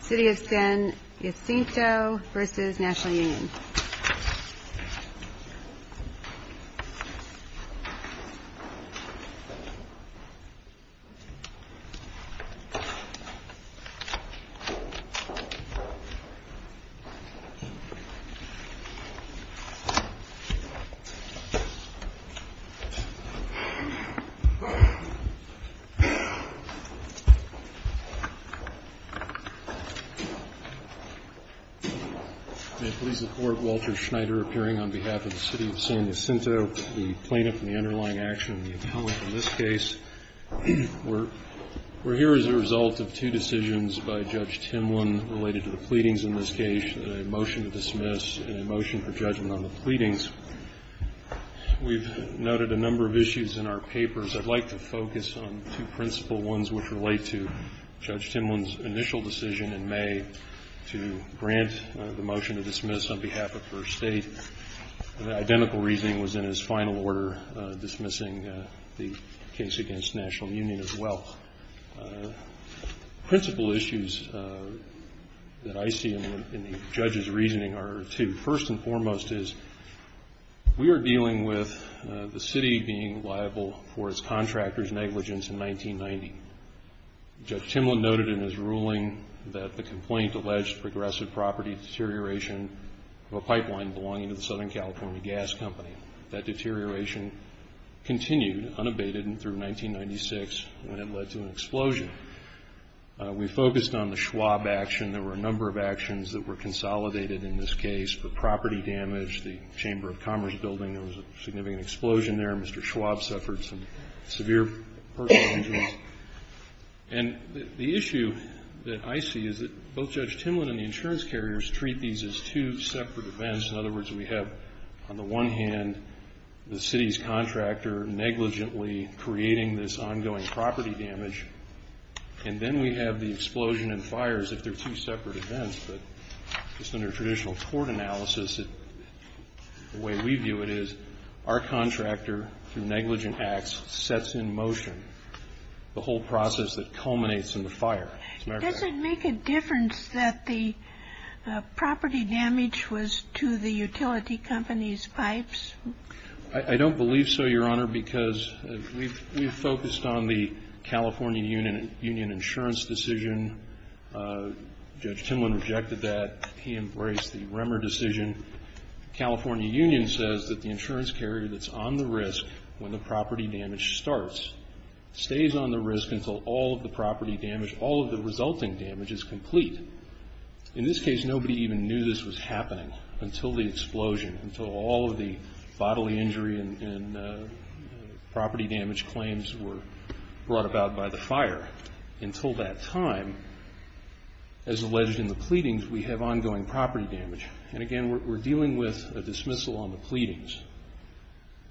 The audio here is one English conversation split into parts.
City of Sin, Jacinto v. Nat'l Union City of Sin, Jacinto v. Nat'l Union May it please the Court, Walter Schneider appearing on behalf of the City of Sin, Jacinto, the plaintiff in the underlying action and the appellant in this case. We're here as a result of two decisions by Judge Tymwin related to the pleadings in this case, a motion to dismiss and a motion for judgment on the pleadings. We've noted a number of issues in our papers. I'd like to focus on two principal ones which relate to Judge Tymwin's initial decision in May to grant the motion to dismiss on behalf of First State. The identical reasoning was in his final order dismissing the case against Nat'l Union as well. Principal issues that I see in the judge's reasoning are two. First and foremost is we are dealing with the city being liable for its contractors' negligence in 1990. Judge Tymwin noted in his ruling that the complaint alleged progressive property deterioration of a pipeline belonging to the Southern California Gas Company. That deterioration continued unabated through 1996 when it led to an explosion. We focused on the Schwab action. There were a number of actions that were consolidated in this case for property damage. The Chamber of Commerce building, there was a significant explosion there. Mr. Schwab suffered some severe personal injuries. And the issue that I see is that both Judge Tymwin and the insurance carriers treat these as two separate events. In other words, we have on the one hand the city's contractor negligently creating this ongoing property damage, and then we have the explosion and fires if they're two separate events. But just under traditional court analysis, the way we view it is our contractor, through negligent acts, sets in motion the whole process that culminates in the fire. Does it make a difference that the property damage was to the utility company's pipes? I don't believe so, Your Honor, because we've focused on the California Union insurance decision. Judge Tymwin rejected that. He embraced the Remmer decision. The California Union says that the insurance carrier that's on the risk when the property damage starts stays on the risk until all of the property damage, all of the resulting damage is complete. In this case, nobody even knew this was happening until the explosion, until all of the bodily injury and property damage claims were brought about by the fire. Until that time, as alleged in the pleadings, we have ongoing property damage. And again, we're dealing with a dismissal on the pleadings.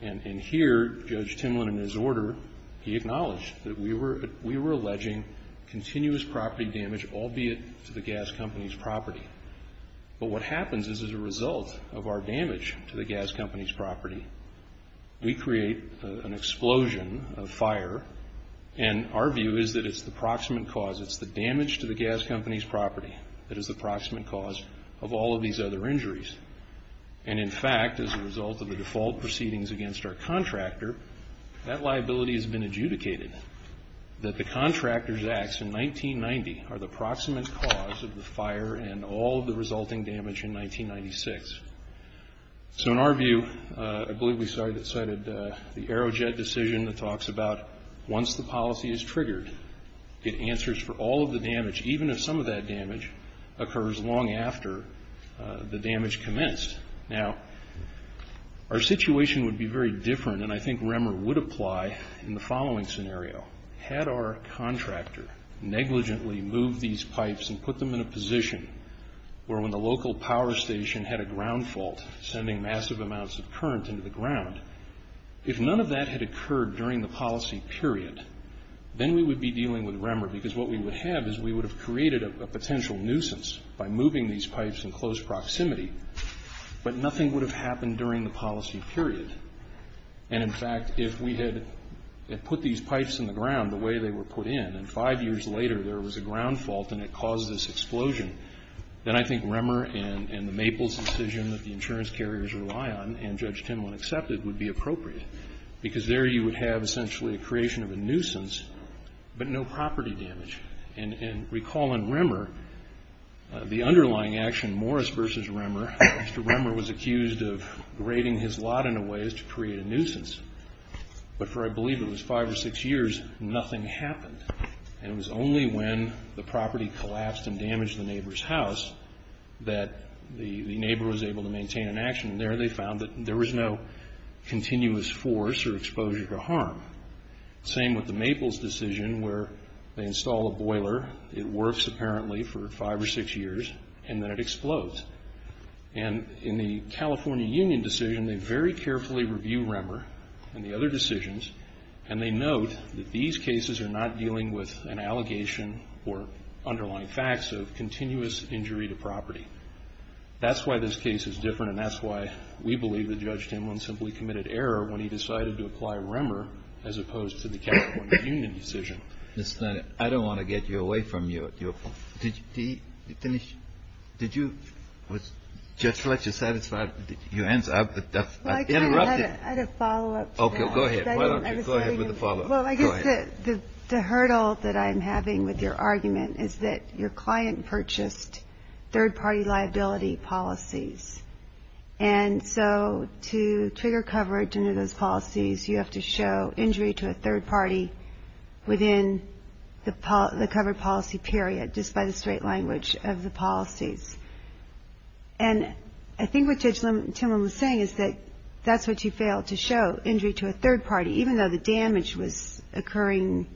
And here, Judge Tymwin, in his order, he acknowledged that we were alleging continuous property damage, albeit to the gas company's property. But what happens is as a result of our damage to the gas company's property, we create an explosion of fire. And our view is that it's the proximate cause. It's the damage to the gas company's property that is the proximate cause of all of these other injuries. And in fact, as a result of the default proceedings against our contractor, that liability has been adjudicated, that the contractor's acts in 1990 are the proximate cause of the fire and all of the resulting damage in 1996. So in our view, I believe we cited the Aerojet decision that talks about once the policy is triggered, it answers for all of the damage, even if some of that damage occurs long after the damage commenced. Now, our situation would be very different, and I think Remmer would apply in the following scenario. Had our contractor negligently moved these pipes and put them in a position where when the local power station had a ground fault, sending massive amounts of current into the ground, if none of that had occurred during the policy period, then we would be dealing with Remmer, because what we would have is we would have created a potential nuisance by moving these pipes in close proximity, but nothing would have happened during the policy period. And in fact, if we had put these pipes in the ground the way they were put in, and five years later there was a ground fault and it caused this explosion, then I think Remmer and the Maples decision that the insurance carriers rely on and Judge Timlin accepted would be appropriate, because there you would have essentially a creation of a nuisance, but no property damage. And recall in Remmer, the underlying action, Morris versus Remmer, Mr. Remmer was accused of grading his lot in a way as to create a nuisance. But for, I believe it was five or six years, nothing happened. And it was only when the property collapsed and damaged the neighbor's house that the neighbor was able to maintain an action. And there they found that there was no continuous force or exposure to harm. Same with the Maples decision where they install a boiler, it works apparently for five or six years, and then it explodes. And in the California Union decision, they very carefully review Remmer and the other decisions, and they note that these cases are not dealing with an allegation or underlying facts of continuous injury to property. That's why this case is different, and that's why we believe that Judge Timlin simply committed error when he decided to apply Remmer as opposed to the California Union decision. I don't want to get you away from your question. Did you finish? Just to let you satisfy your answer, I interrupted. I had a follow-up. Okay, go ahead. Why don't you go ahead with the follow-up. Well, I guess the hurdle that I'm having with your argument is that your client purchased third-party liability policies. And so to trigger coverage under those policies, you have to show injury to a third party within the covered policy period, just by the straight language of the policies. And I think what Judge Timlin was saying is that that's what you fail, to show injury to a third party, even though the damage was occurring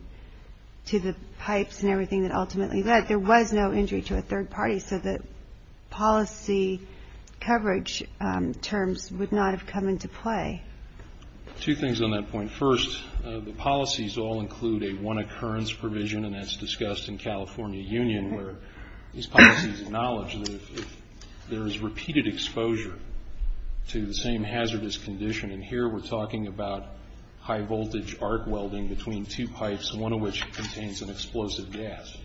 to the pipes and everything that ultimately led. But there was no injury to a third party, so the policy coverage terms would not have come into play. Two things on that point. First, the policies all include a one-occurrence provision, and that's discussed in California Union, where these policies acknowledge that if there is repeated exposure to the same hazardous condition, and here we're talking about high-voltage arc welding between two pipes, one of which contains an explosive gas.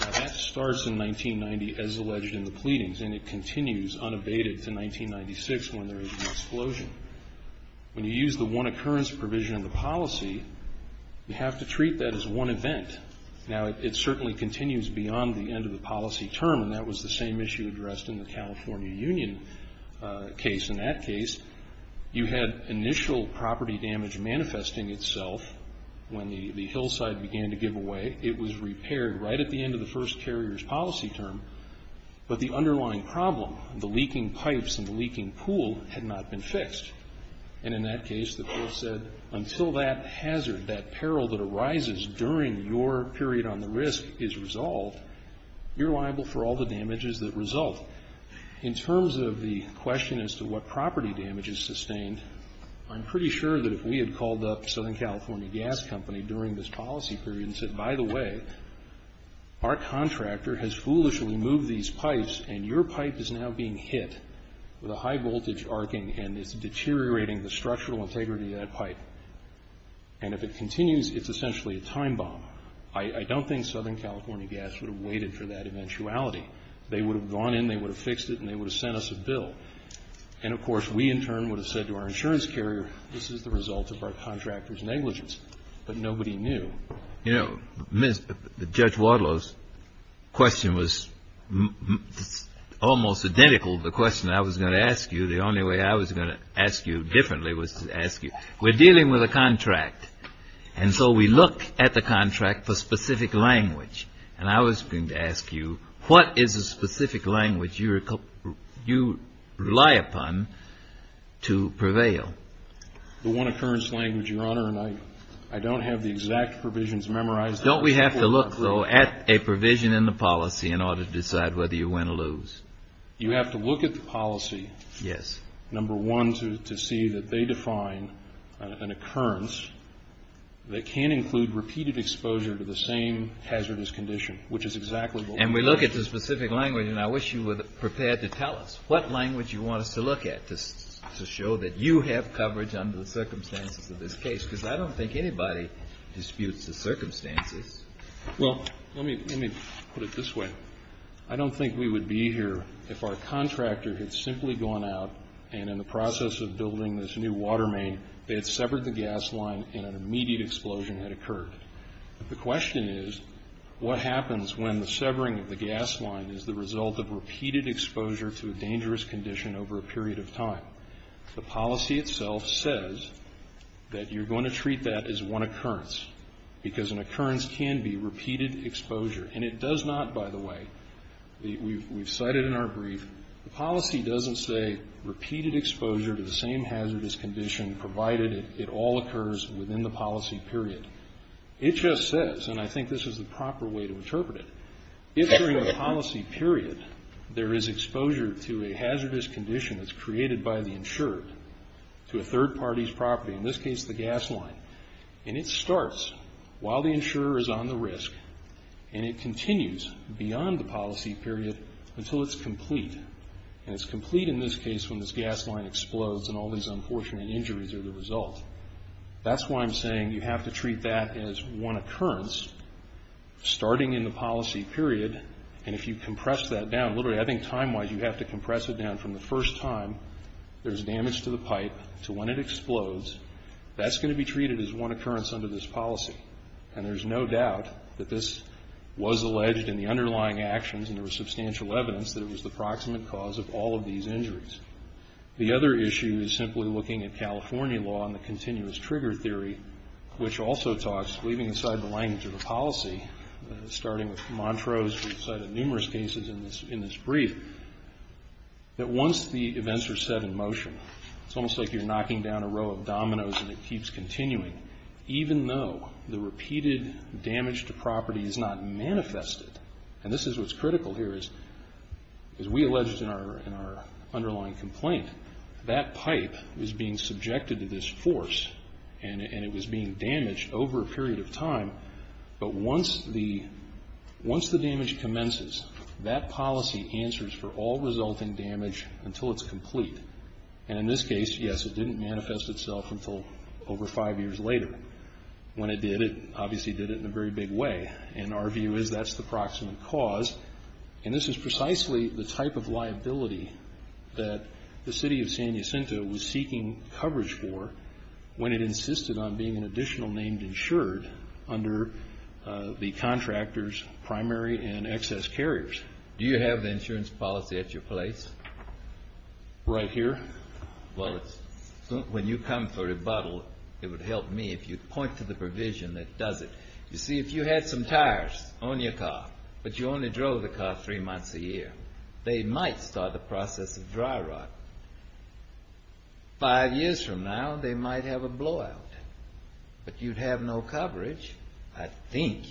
Now, that starts in 1990 as alleged in the pleadings, and it continues unabated to 1996 when there is an explosion. When you use the one-occurrence provision of the policy, you have to treat that as one event. Now, it certainly continues beyond the end of the policy term, and that was the same issue addressed in the California Union case. In that case, you had initial property damage manifesting itself when the hillside began to give away. It was repaired right at the end of the first carrier's policy term, but the underlying problem, the leaking pipes and the leaking pool, had not been fixed. And in that case, the court said, until that hazard, that peril that arises during your period on the risk is resolved, you're liable for all the damages that result. In terms of the question as to what property damage is sustained, I'm pretty sure that if we had called up Southern California Gas Company during this policy period and said, by the way, our contractor has foolishly moved these pipes, and your pipe is now being hit with a high-voltage arcing and is deteriorating the structural integrity of that pipe, and if it continues, it's essentially a time bomb, I don't think Southern California Gas would have waited for that eventuality. They would have gone in, they would have fixed it, and they would have sent us a bill. And, of course, we in turn would have said to our insurance carrier, this is the result of our contractor's negligence, but nobody knew. You know, Judge Wadlow's question was almost identical to the question I was going to ask you. The only way I was going to ask you differently was to ask you, we're dealing with a contract, and so we look at the contract for specific language. And I was going to ask you, what is a specific language you rely upon to prevail? The one occurrence language, Your Honor, and I don't have the exact provisions memorized. Don't we have to look, though, at a provision in the policy in order to decide whether you win or lose? You have to look at the policy, number one, to see that they define an occurrence that can include repeated exposure to the same hazardous condition, which is exactly the one. And we look at the specific language, and I wish you were prepared to tell us what language you want us to look at to show that you have coverage under the circumstances of this case, because I don't think anybody disputes the circumstances. Well, let me put it this way. I don't think we would be here if our contractor had simply gone out and in the process of building this new water main, they had severed the gas line and an immediate explosion had occurred. The question is, what happens when the severing of the gas line is the result of repeated exposure to a dangerous condition over a period of time? The policy itself says that you're going to treat that as one occurrence, because an occurrence can be repeated exposure. And it does not, by the way. We've cited in our brief, the policy doesn't say repeated exposure to the same hazardous condition, provided it all occurs within the policy period. It just says, and I think this is the proper way to interpret it, if during the policy period there is exposure to a hazardous condition that's created by the insurer to a third party's property, in this case the gas line, and it starts while the insurer is on the risk and it continues beyond the policy period until it's complete. And it's complete in this case when this gas line explodes and all these unfortunate injuries are the result. That's why I'm saying you have to treat that as one occurrence starting in the policy period, and if you compress that down, literally I think time-wise, you have to compress it down from the first time there's damage to the pipe to when it explodes. That's going to be treated as one occurrence under this policy, and there's no doubt that this was alleged in the underlying actions, and there was substantial evidence that it was the proximate cause of all of these injuries. The other issue is simply looking at California law and the continuous trigger theory, which also talks, leaving aside the language of the policy, starting with Montrose, we've cited numerous cases in this brief, that once the events are set in motion, it's almost like you're knocking down a row of dominoes and it keeps continuing, even though the repeated damage to property is not manifested. And this is what's critical here is, as we alleged in our underlying complaint, that pipe is being subjected to this force, and it was being damaged over a period of time, but once the damage commences, that policy answers for all resulting damage until it's complete. And in this case, yes, it didn't manifest itself until over five years later. When it did, it obviously did it in a very big way. And our view is that's the proximate cause, and this is precisely the type of liability that the city of San Jacinto was seeking coverage for when it insisted on being an additional named insured under the contractor's primary and excess carriers. Do you have the insurance policy at your place? Right here? Well, when you come for rebuttal, it would help me if you'd point to the provision that does it. You see, if you had some tires on your car, but you only drove the car three months a year, they might start the process of dry rot. Five years from now, they might have a blowout, but you'd have no coverage, I think,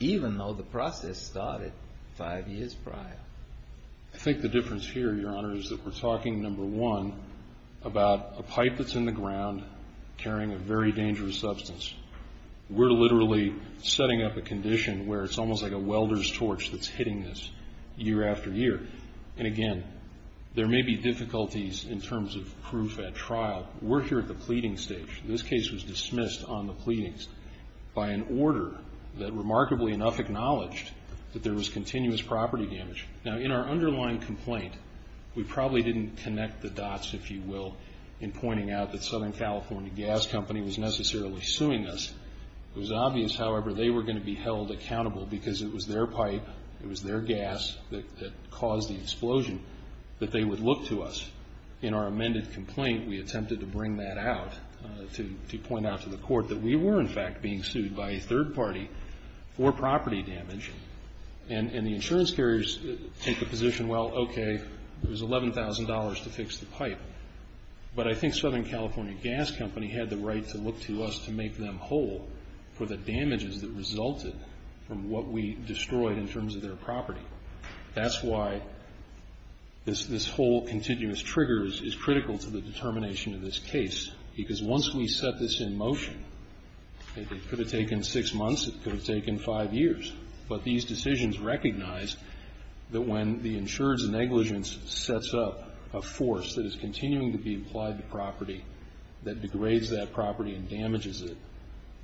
even though the process started five years prior. I think the difference here, Your Honor, is that we're talking, number one, about a pipe that's in the ground carrying a very dangerous substance. We're literally setting up a condition where it's almost like a welder's torch that's hitting this year after year. And again, there may be difficulties in terms of proof at trial. We're here at the pleading stage. This case was dismissed on the pleadings by an order that, remarkably enough, acknowledged that there was continuous property damage. Now, in our underlying complaint, we probably didn't connect the dots, if you will, in pointing out that Southern California Gas Company was necessarily suing us. It was obvious, however, they were going to be held accountable because it was their pipe, it was their gas that caused the explosion, that they would look to us. In our amended complaint, we attempted to bring that out to point out to the court that we were, in fact, being sued by a third party for property damage, and the insurance carriers take the position, well, okay, it was $11,000 to fix the pipe. But I think Southern California Gas Company had the right to look to us to make them whole for the damages that resulted from what we destroyed in terms of their property. That's why this whole continuous triggers is critical to the determination of this case, because once we set this in motion, it could have taken six months, it could have taken five years. But these decisions recognized that when the insured's negligence sets up a force that is continuing to be applied to property, that degrades that property and damages it,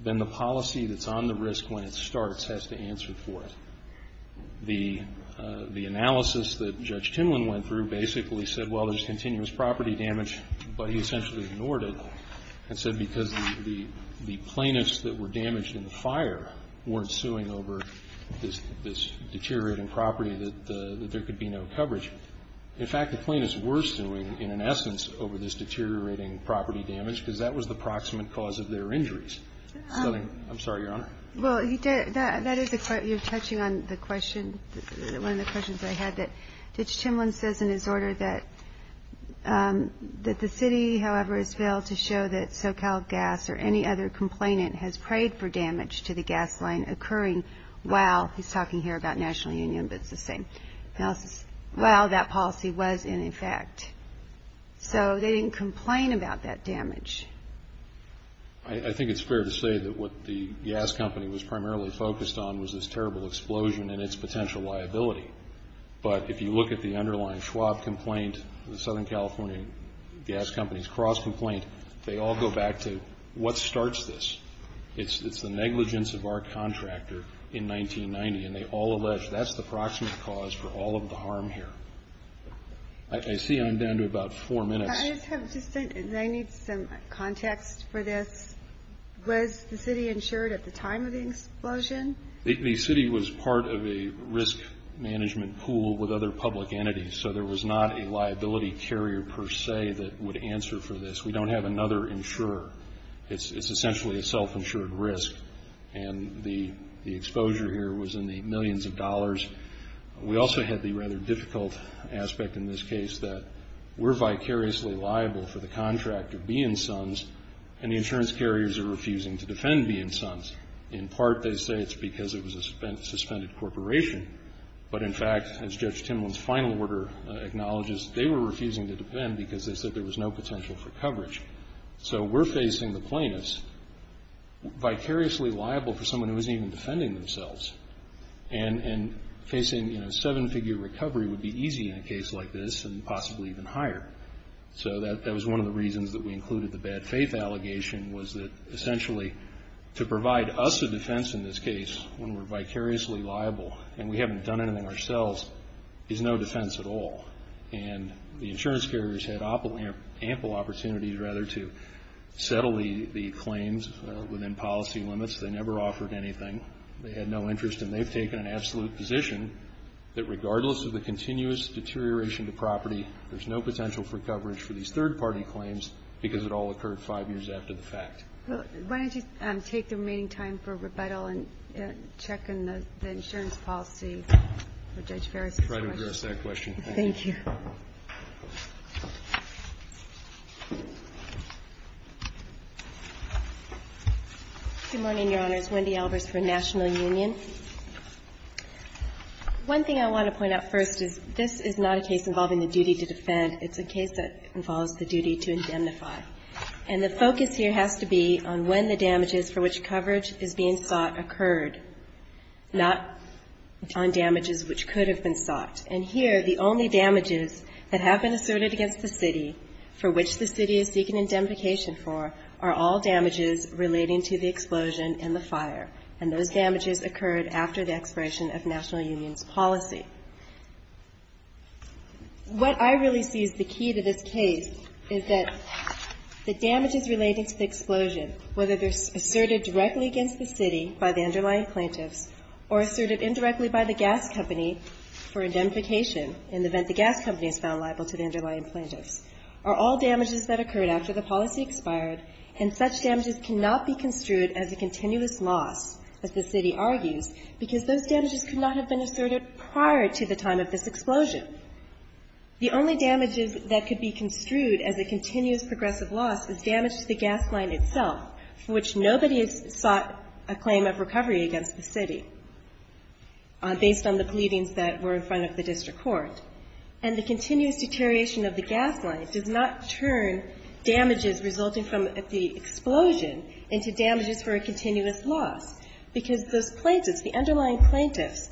then the policy that's on the risk when it starts has to answer for it. The analysis that Judge Timlin went through basically said, well, there's continuous property damage, but he essentially ignored it and said because the plaintiffs that were damaged in the fire weren't suing over this deteriorating property that there could be no coverage. In fact, the plaintiffs were suing, in essence, over this deteriorating property damage, because that was the proximate cause of their injuries. I'm sorry, Your Honor. Well, that is a question you're touching on, the question, one of the questions that I had, that Judge Timlin says in his order that the city, however, has failed to show that SoCal Gas or any other complainant has prayed for damage to the gas line occurring while, he's talking here about National Union, but it's the same analysis, while that policy was in effect. So they didn't complain about that damage. I think it's fair to say that what the gas company was primarily focused on was this terrible explosion and its potential liability. But if you look at the underlying Schwab complaint, the Southern California Gas Company's cross-complaint, they all go back to what starts this. It's the negligence of our contractor in 1990, and they all allege that's the proximate cause for all of the harm here. I see I'm down to about four minutes. I need some context for this. Was the city insured at the time of the explosion? The city was part of a risk management pool with other public entities, so there was not a liability carrier per se that would answer for this. We don't have another insurer. It's essentially a self-insured risk, and the exposure here was in the millions of dollars. We also had the rather difficult aspect in this case that we're vicariously liable for the contractor, B & Sons, and the insurance carriers are refusing to defend B & Sons. In part, they say it's because it was a suspended corporation. But, in fact, as Judge Timlin's final order acknowledges, they were refusing to defend because they said there was no potential for coverage. So we're facing the plaintiffs vicariously liable for someone who isn't even defending themselves. And facing, you know, seven-figure recovery would be easy in a case like this and possibly even higher. So that was one of the reasons that we included the bad faith allegation, was that essentially to provide us a defense in this case when we're vicariously liable and we haven't done anything ourselves is no defense at all. And the insurance carriers had ample opportunities, rather, to settle the claims within policy limits. They never offered anything. They had no interest, and they've taken an absolute position that, regardless of the continuous deterioration to property, there's no potential for coverage for these third-party claims because it all occurred five years after the fact. Why don't you take the remaining time for rebuttal and check in the insurance policy for Judge Ferris? I'll try to address that question. Thank you. Thank you. Good morning, Your Honors. Wendy Albers for National Union. One thing I want to point out first is this is not a case involving the duty to defend. It's a case that involves the duty to indemnify. And the focus here has to be on when the damages for which coverage is being sought occurred, not on damages which could have been sought. And here, the only damages that have been asserted against the city for which the city is seeking indemnification occurred after the expiration of National Union's policy. What I really see as the key to this case is that the damages relating to the explosion, whether they're asserted directly against the city by the underlying plaintiffs or asserted indirectly by the gas company for indemnification in the event the gas company is found liable to the underlying plaintiffs, are all damages that occurred after the policy expired, and such damages cannot be construed as a continuous loss, as the city argues, because those damages could not have been asserted prior to the time of this explosion. The only damages that could be construed as a continuous progressive loss is damage to the gas line itself, for which nobody has sought a claim of recovery against the city, based on the pleadings that were in front of the district court. And the continuous deterioration of the gas line does not turn damages resulting from the explosion into damages for a continuous loss, because those plaintiffs, the underlying plaintiffs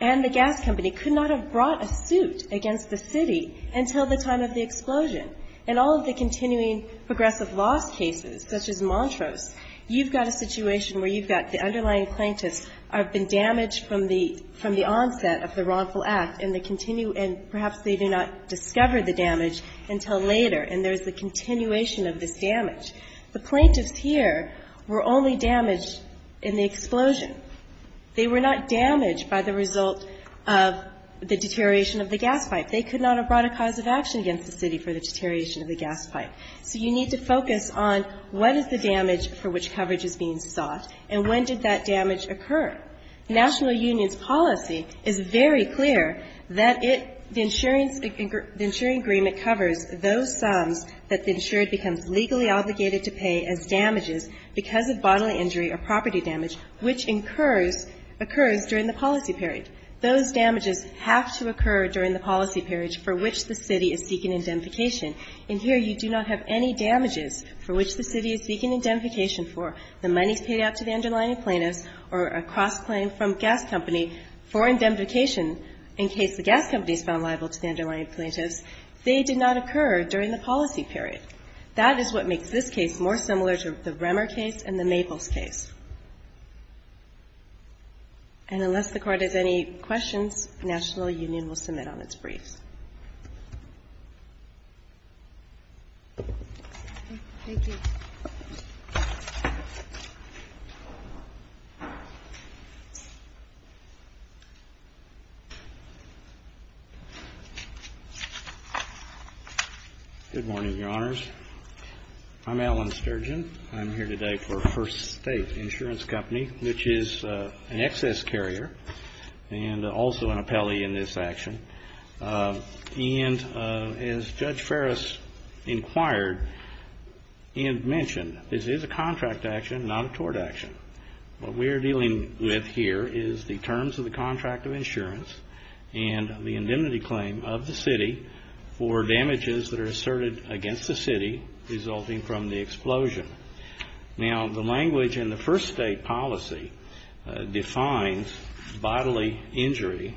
and the gas company could not have brought a suit against the city until the time of the explosion. In all of the continuing progressive loss cases, such as Montrose, you've got a situation where you've got the underlying plaintiffs have been damaged from the onset of the wrongful act, and they continue, and perhaps they do not discover the damage until later, and there's a continuation of this damage. The plaintiffs here were only damaged in the explosion. They were not damaged by the result of the deterioration of the gas pipe. They could not have brought a cause of action against the city for the deterioration of the gas pipe. So you need to focus on what is the damage for which coverage is being sought, and when did that damage occur. The National Union's policy is very clear that it, the insuring agreement covers those sums that the insured becomes legally obligated to pay as damages because of bodily injury or property damage, which occurs during the policy period. Those damages have to occur during the policy period for which the city is seeking indemnification. And here you do not have any damages for which the city is seeking indemnification for. The money is paid out to the underlying plaintiffs or a cross-claim from a gas company for indemnification in case the gas company is found liable to the underlying plaintiffs. They did not occur during the policy period. That is what makes this case more similar to the Remmer case and the Maples case. And unless the Court has any questions, the National Union will submit on its briefs. Thank you. Good morning, Your Honors. I'm Alan Sturgeon. I'm here today for First State Insurance Company, which is an excess carrier and also an appellee in this action. And as Judge Ferris inquired and mentioned, this is a contract action, not a tort action. What we are dealing with here is the terms of the contract of insurance and the indemnity claim of the city for damages that are asserted against the city resulting from the explosion. Now, the language in the First State policy defines bodily injury.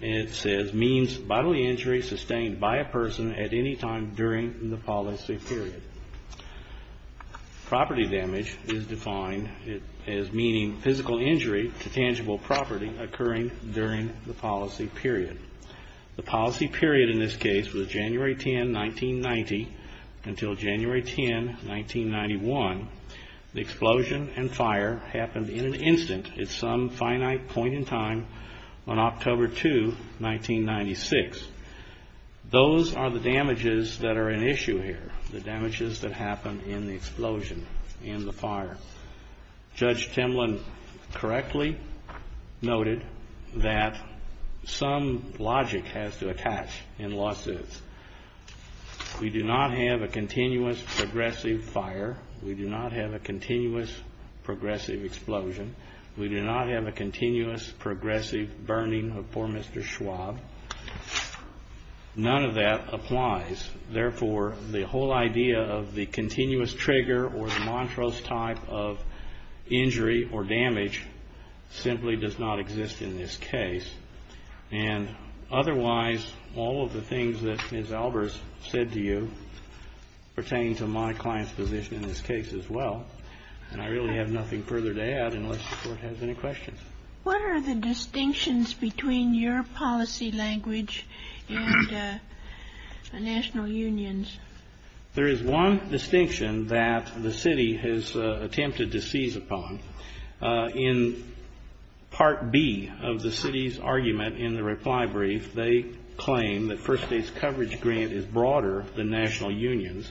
It says, means bodily injury sustained by a person at any time during the policy period. Property damage is defined as meaning physical injury to tangible property occurring during the policy period. The policy period in this case was January 10, 1990 until January 10, 1991. The explosion and fire happened in an instant at some finite point in time on a October 2, 1996. Those are the damages that are an issue here, the damages that happened in the explosion and the fire. Judge Timlin correctly noted that some logic has to attach in lawsuits. We do not have a continuous progressive fire. We do not have a continuous progressive explosion. We do not have a continuous progressive burning of poor Mr. Schwab. None of that applies. Therefore, the whole idea of the continuous trigger or Montrose type of injury or damage simply does not exist in this case. And otherwise, all of the things that Ms. Albers said to you pertain to my client's position in this case as well. And I really have nothing further to add unless the Court has any questions. What are the distinctions between your policy language and national unions? There is one distinction that the city has attempted to seize upon. In Part B of the city's argument in the reply brief, they claim that First States' coverage grant is broader than national unions,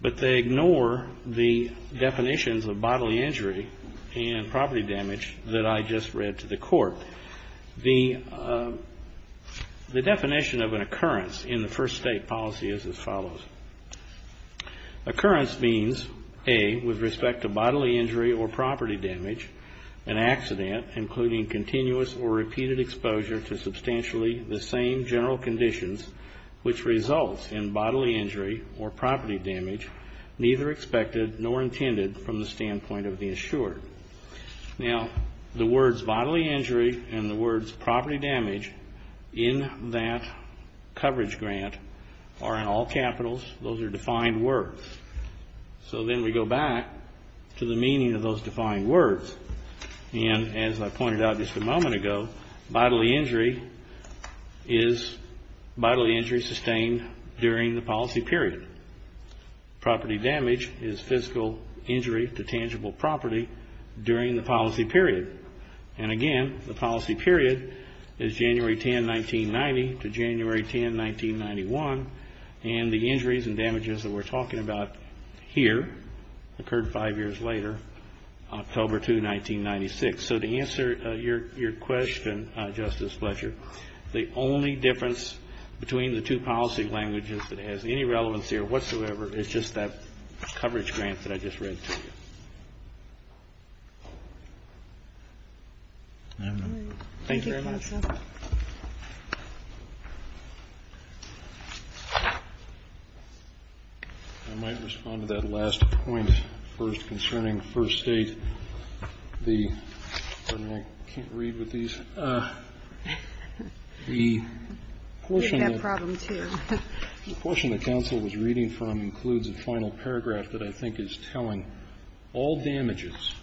but they ignore the definitions of bodily injury and property damage that I just read to the Court. The definition of an occurrence in the First State policy is as follows. Occurrence means, A, with respect to bodily injury or property damage, an accident, including continuous or repeated exposure to or property damage, neither expected nor intended from the standpoint of the insured. Now, the words bodily injury and the words property damage in that coverage grant are in all capitals. Those are defined words. So then we go back to the meaning of those defined words. And as I pointed out just a moment ago, bodily injury is bodily injury sustained during the policy period. Property damage is physical injury to tangible property during the policy period. And again, the policy period is January 10, 1990 to January 10, 1991. And the injuries and damages that we're talking about here occurred five years later, October 2, 1990. So to answer your question, Justice Fletcher, the only difference between the two policy languages that has any relevance here whatsoever is just that coverage grant that I just read to you. Thank you very much. Thank you. I might respond to that last point first concerning First State. Pardon me, I can't read with these. We have problems here. The portion the counsel was reading from includes a final paragraph that I think is telling all damages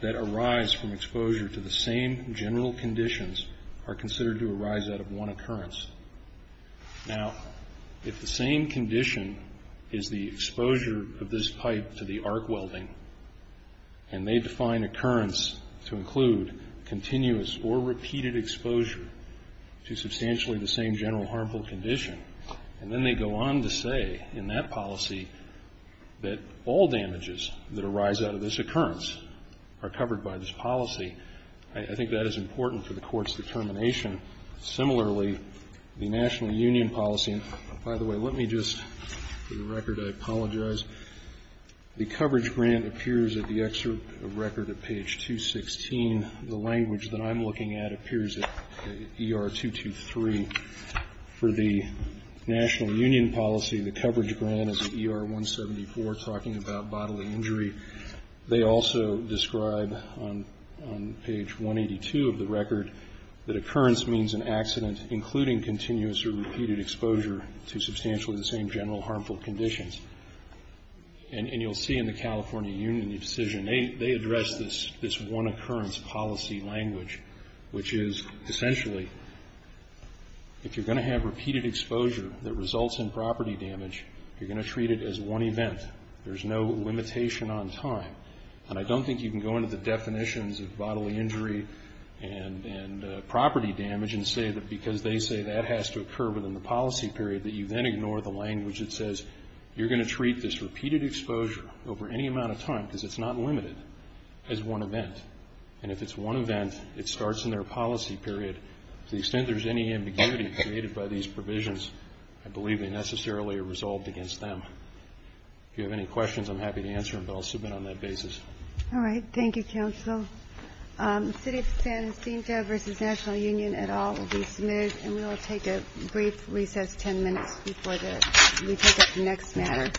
that arise from exposure to the same general conditions are considered to arise out of one occurrence. Now, if the same condition is the exposure of this pipe to the arc welding, and they define occurrence to include continuous or repeated exposure to substantially the same general harmful condition, and then they go on to say in that policy that all damages that arise out of this occurrence are covered by this policy, I think that is important for the Court's determination. Similarly, the National Union policy, and by the way, let me just, for the record, I apologize. The coverage grant appears at the excerpt of record at page 216. The language that I'm looking at appears at ER 223. For the National Union policy, the coverage grant is ER 174, talking about bodily injury. They also describe on page 182 of the record that occurrence means an accident, including continuous or repeated exposure to substantially the same general harmful conditions. And you'll see in the California Union decision, they address this one occurrence policy language, which is essentially, if you're going to have repeated exposure that results in property damage, you're going to treat it as one event. There's no limitation on time. And I don't think you can go into the definitions of bodily injury and property damage and say that because they say that has to occur within the policy period that you then ignore the language that says you're going to treat this repeated exposure over any amount of time, because it's not limited, as one event. And if it's one event, it starts in their policy period. To the extent there's any ambiguity created by these provisions, I believe they necessarily are resolved against them. If you have any questions, I'm happy to answer them, but I'll submit on that basis. All right. Thank you, Counsel. City of San Jacinto v. National Union et al. will be submitted, and we will take a brief recess. Ten minutes before we take up the next matter. Thank you. Thank you.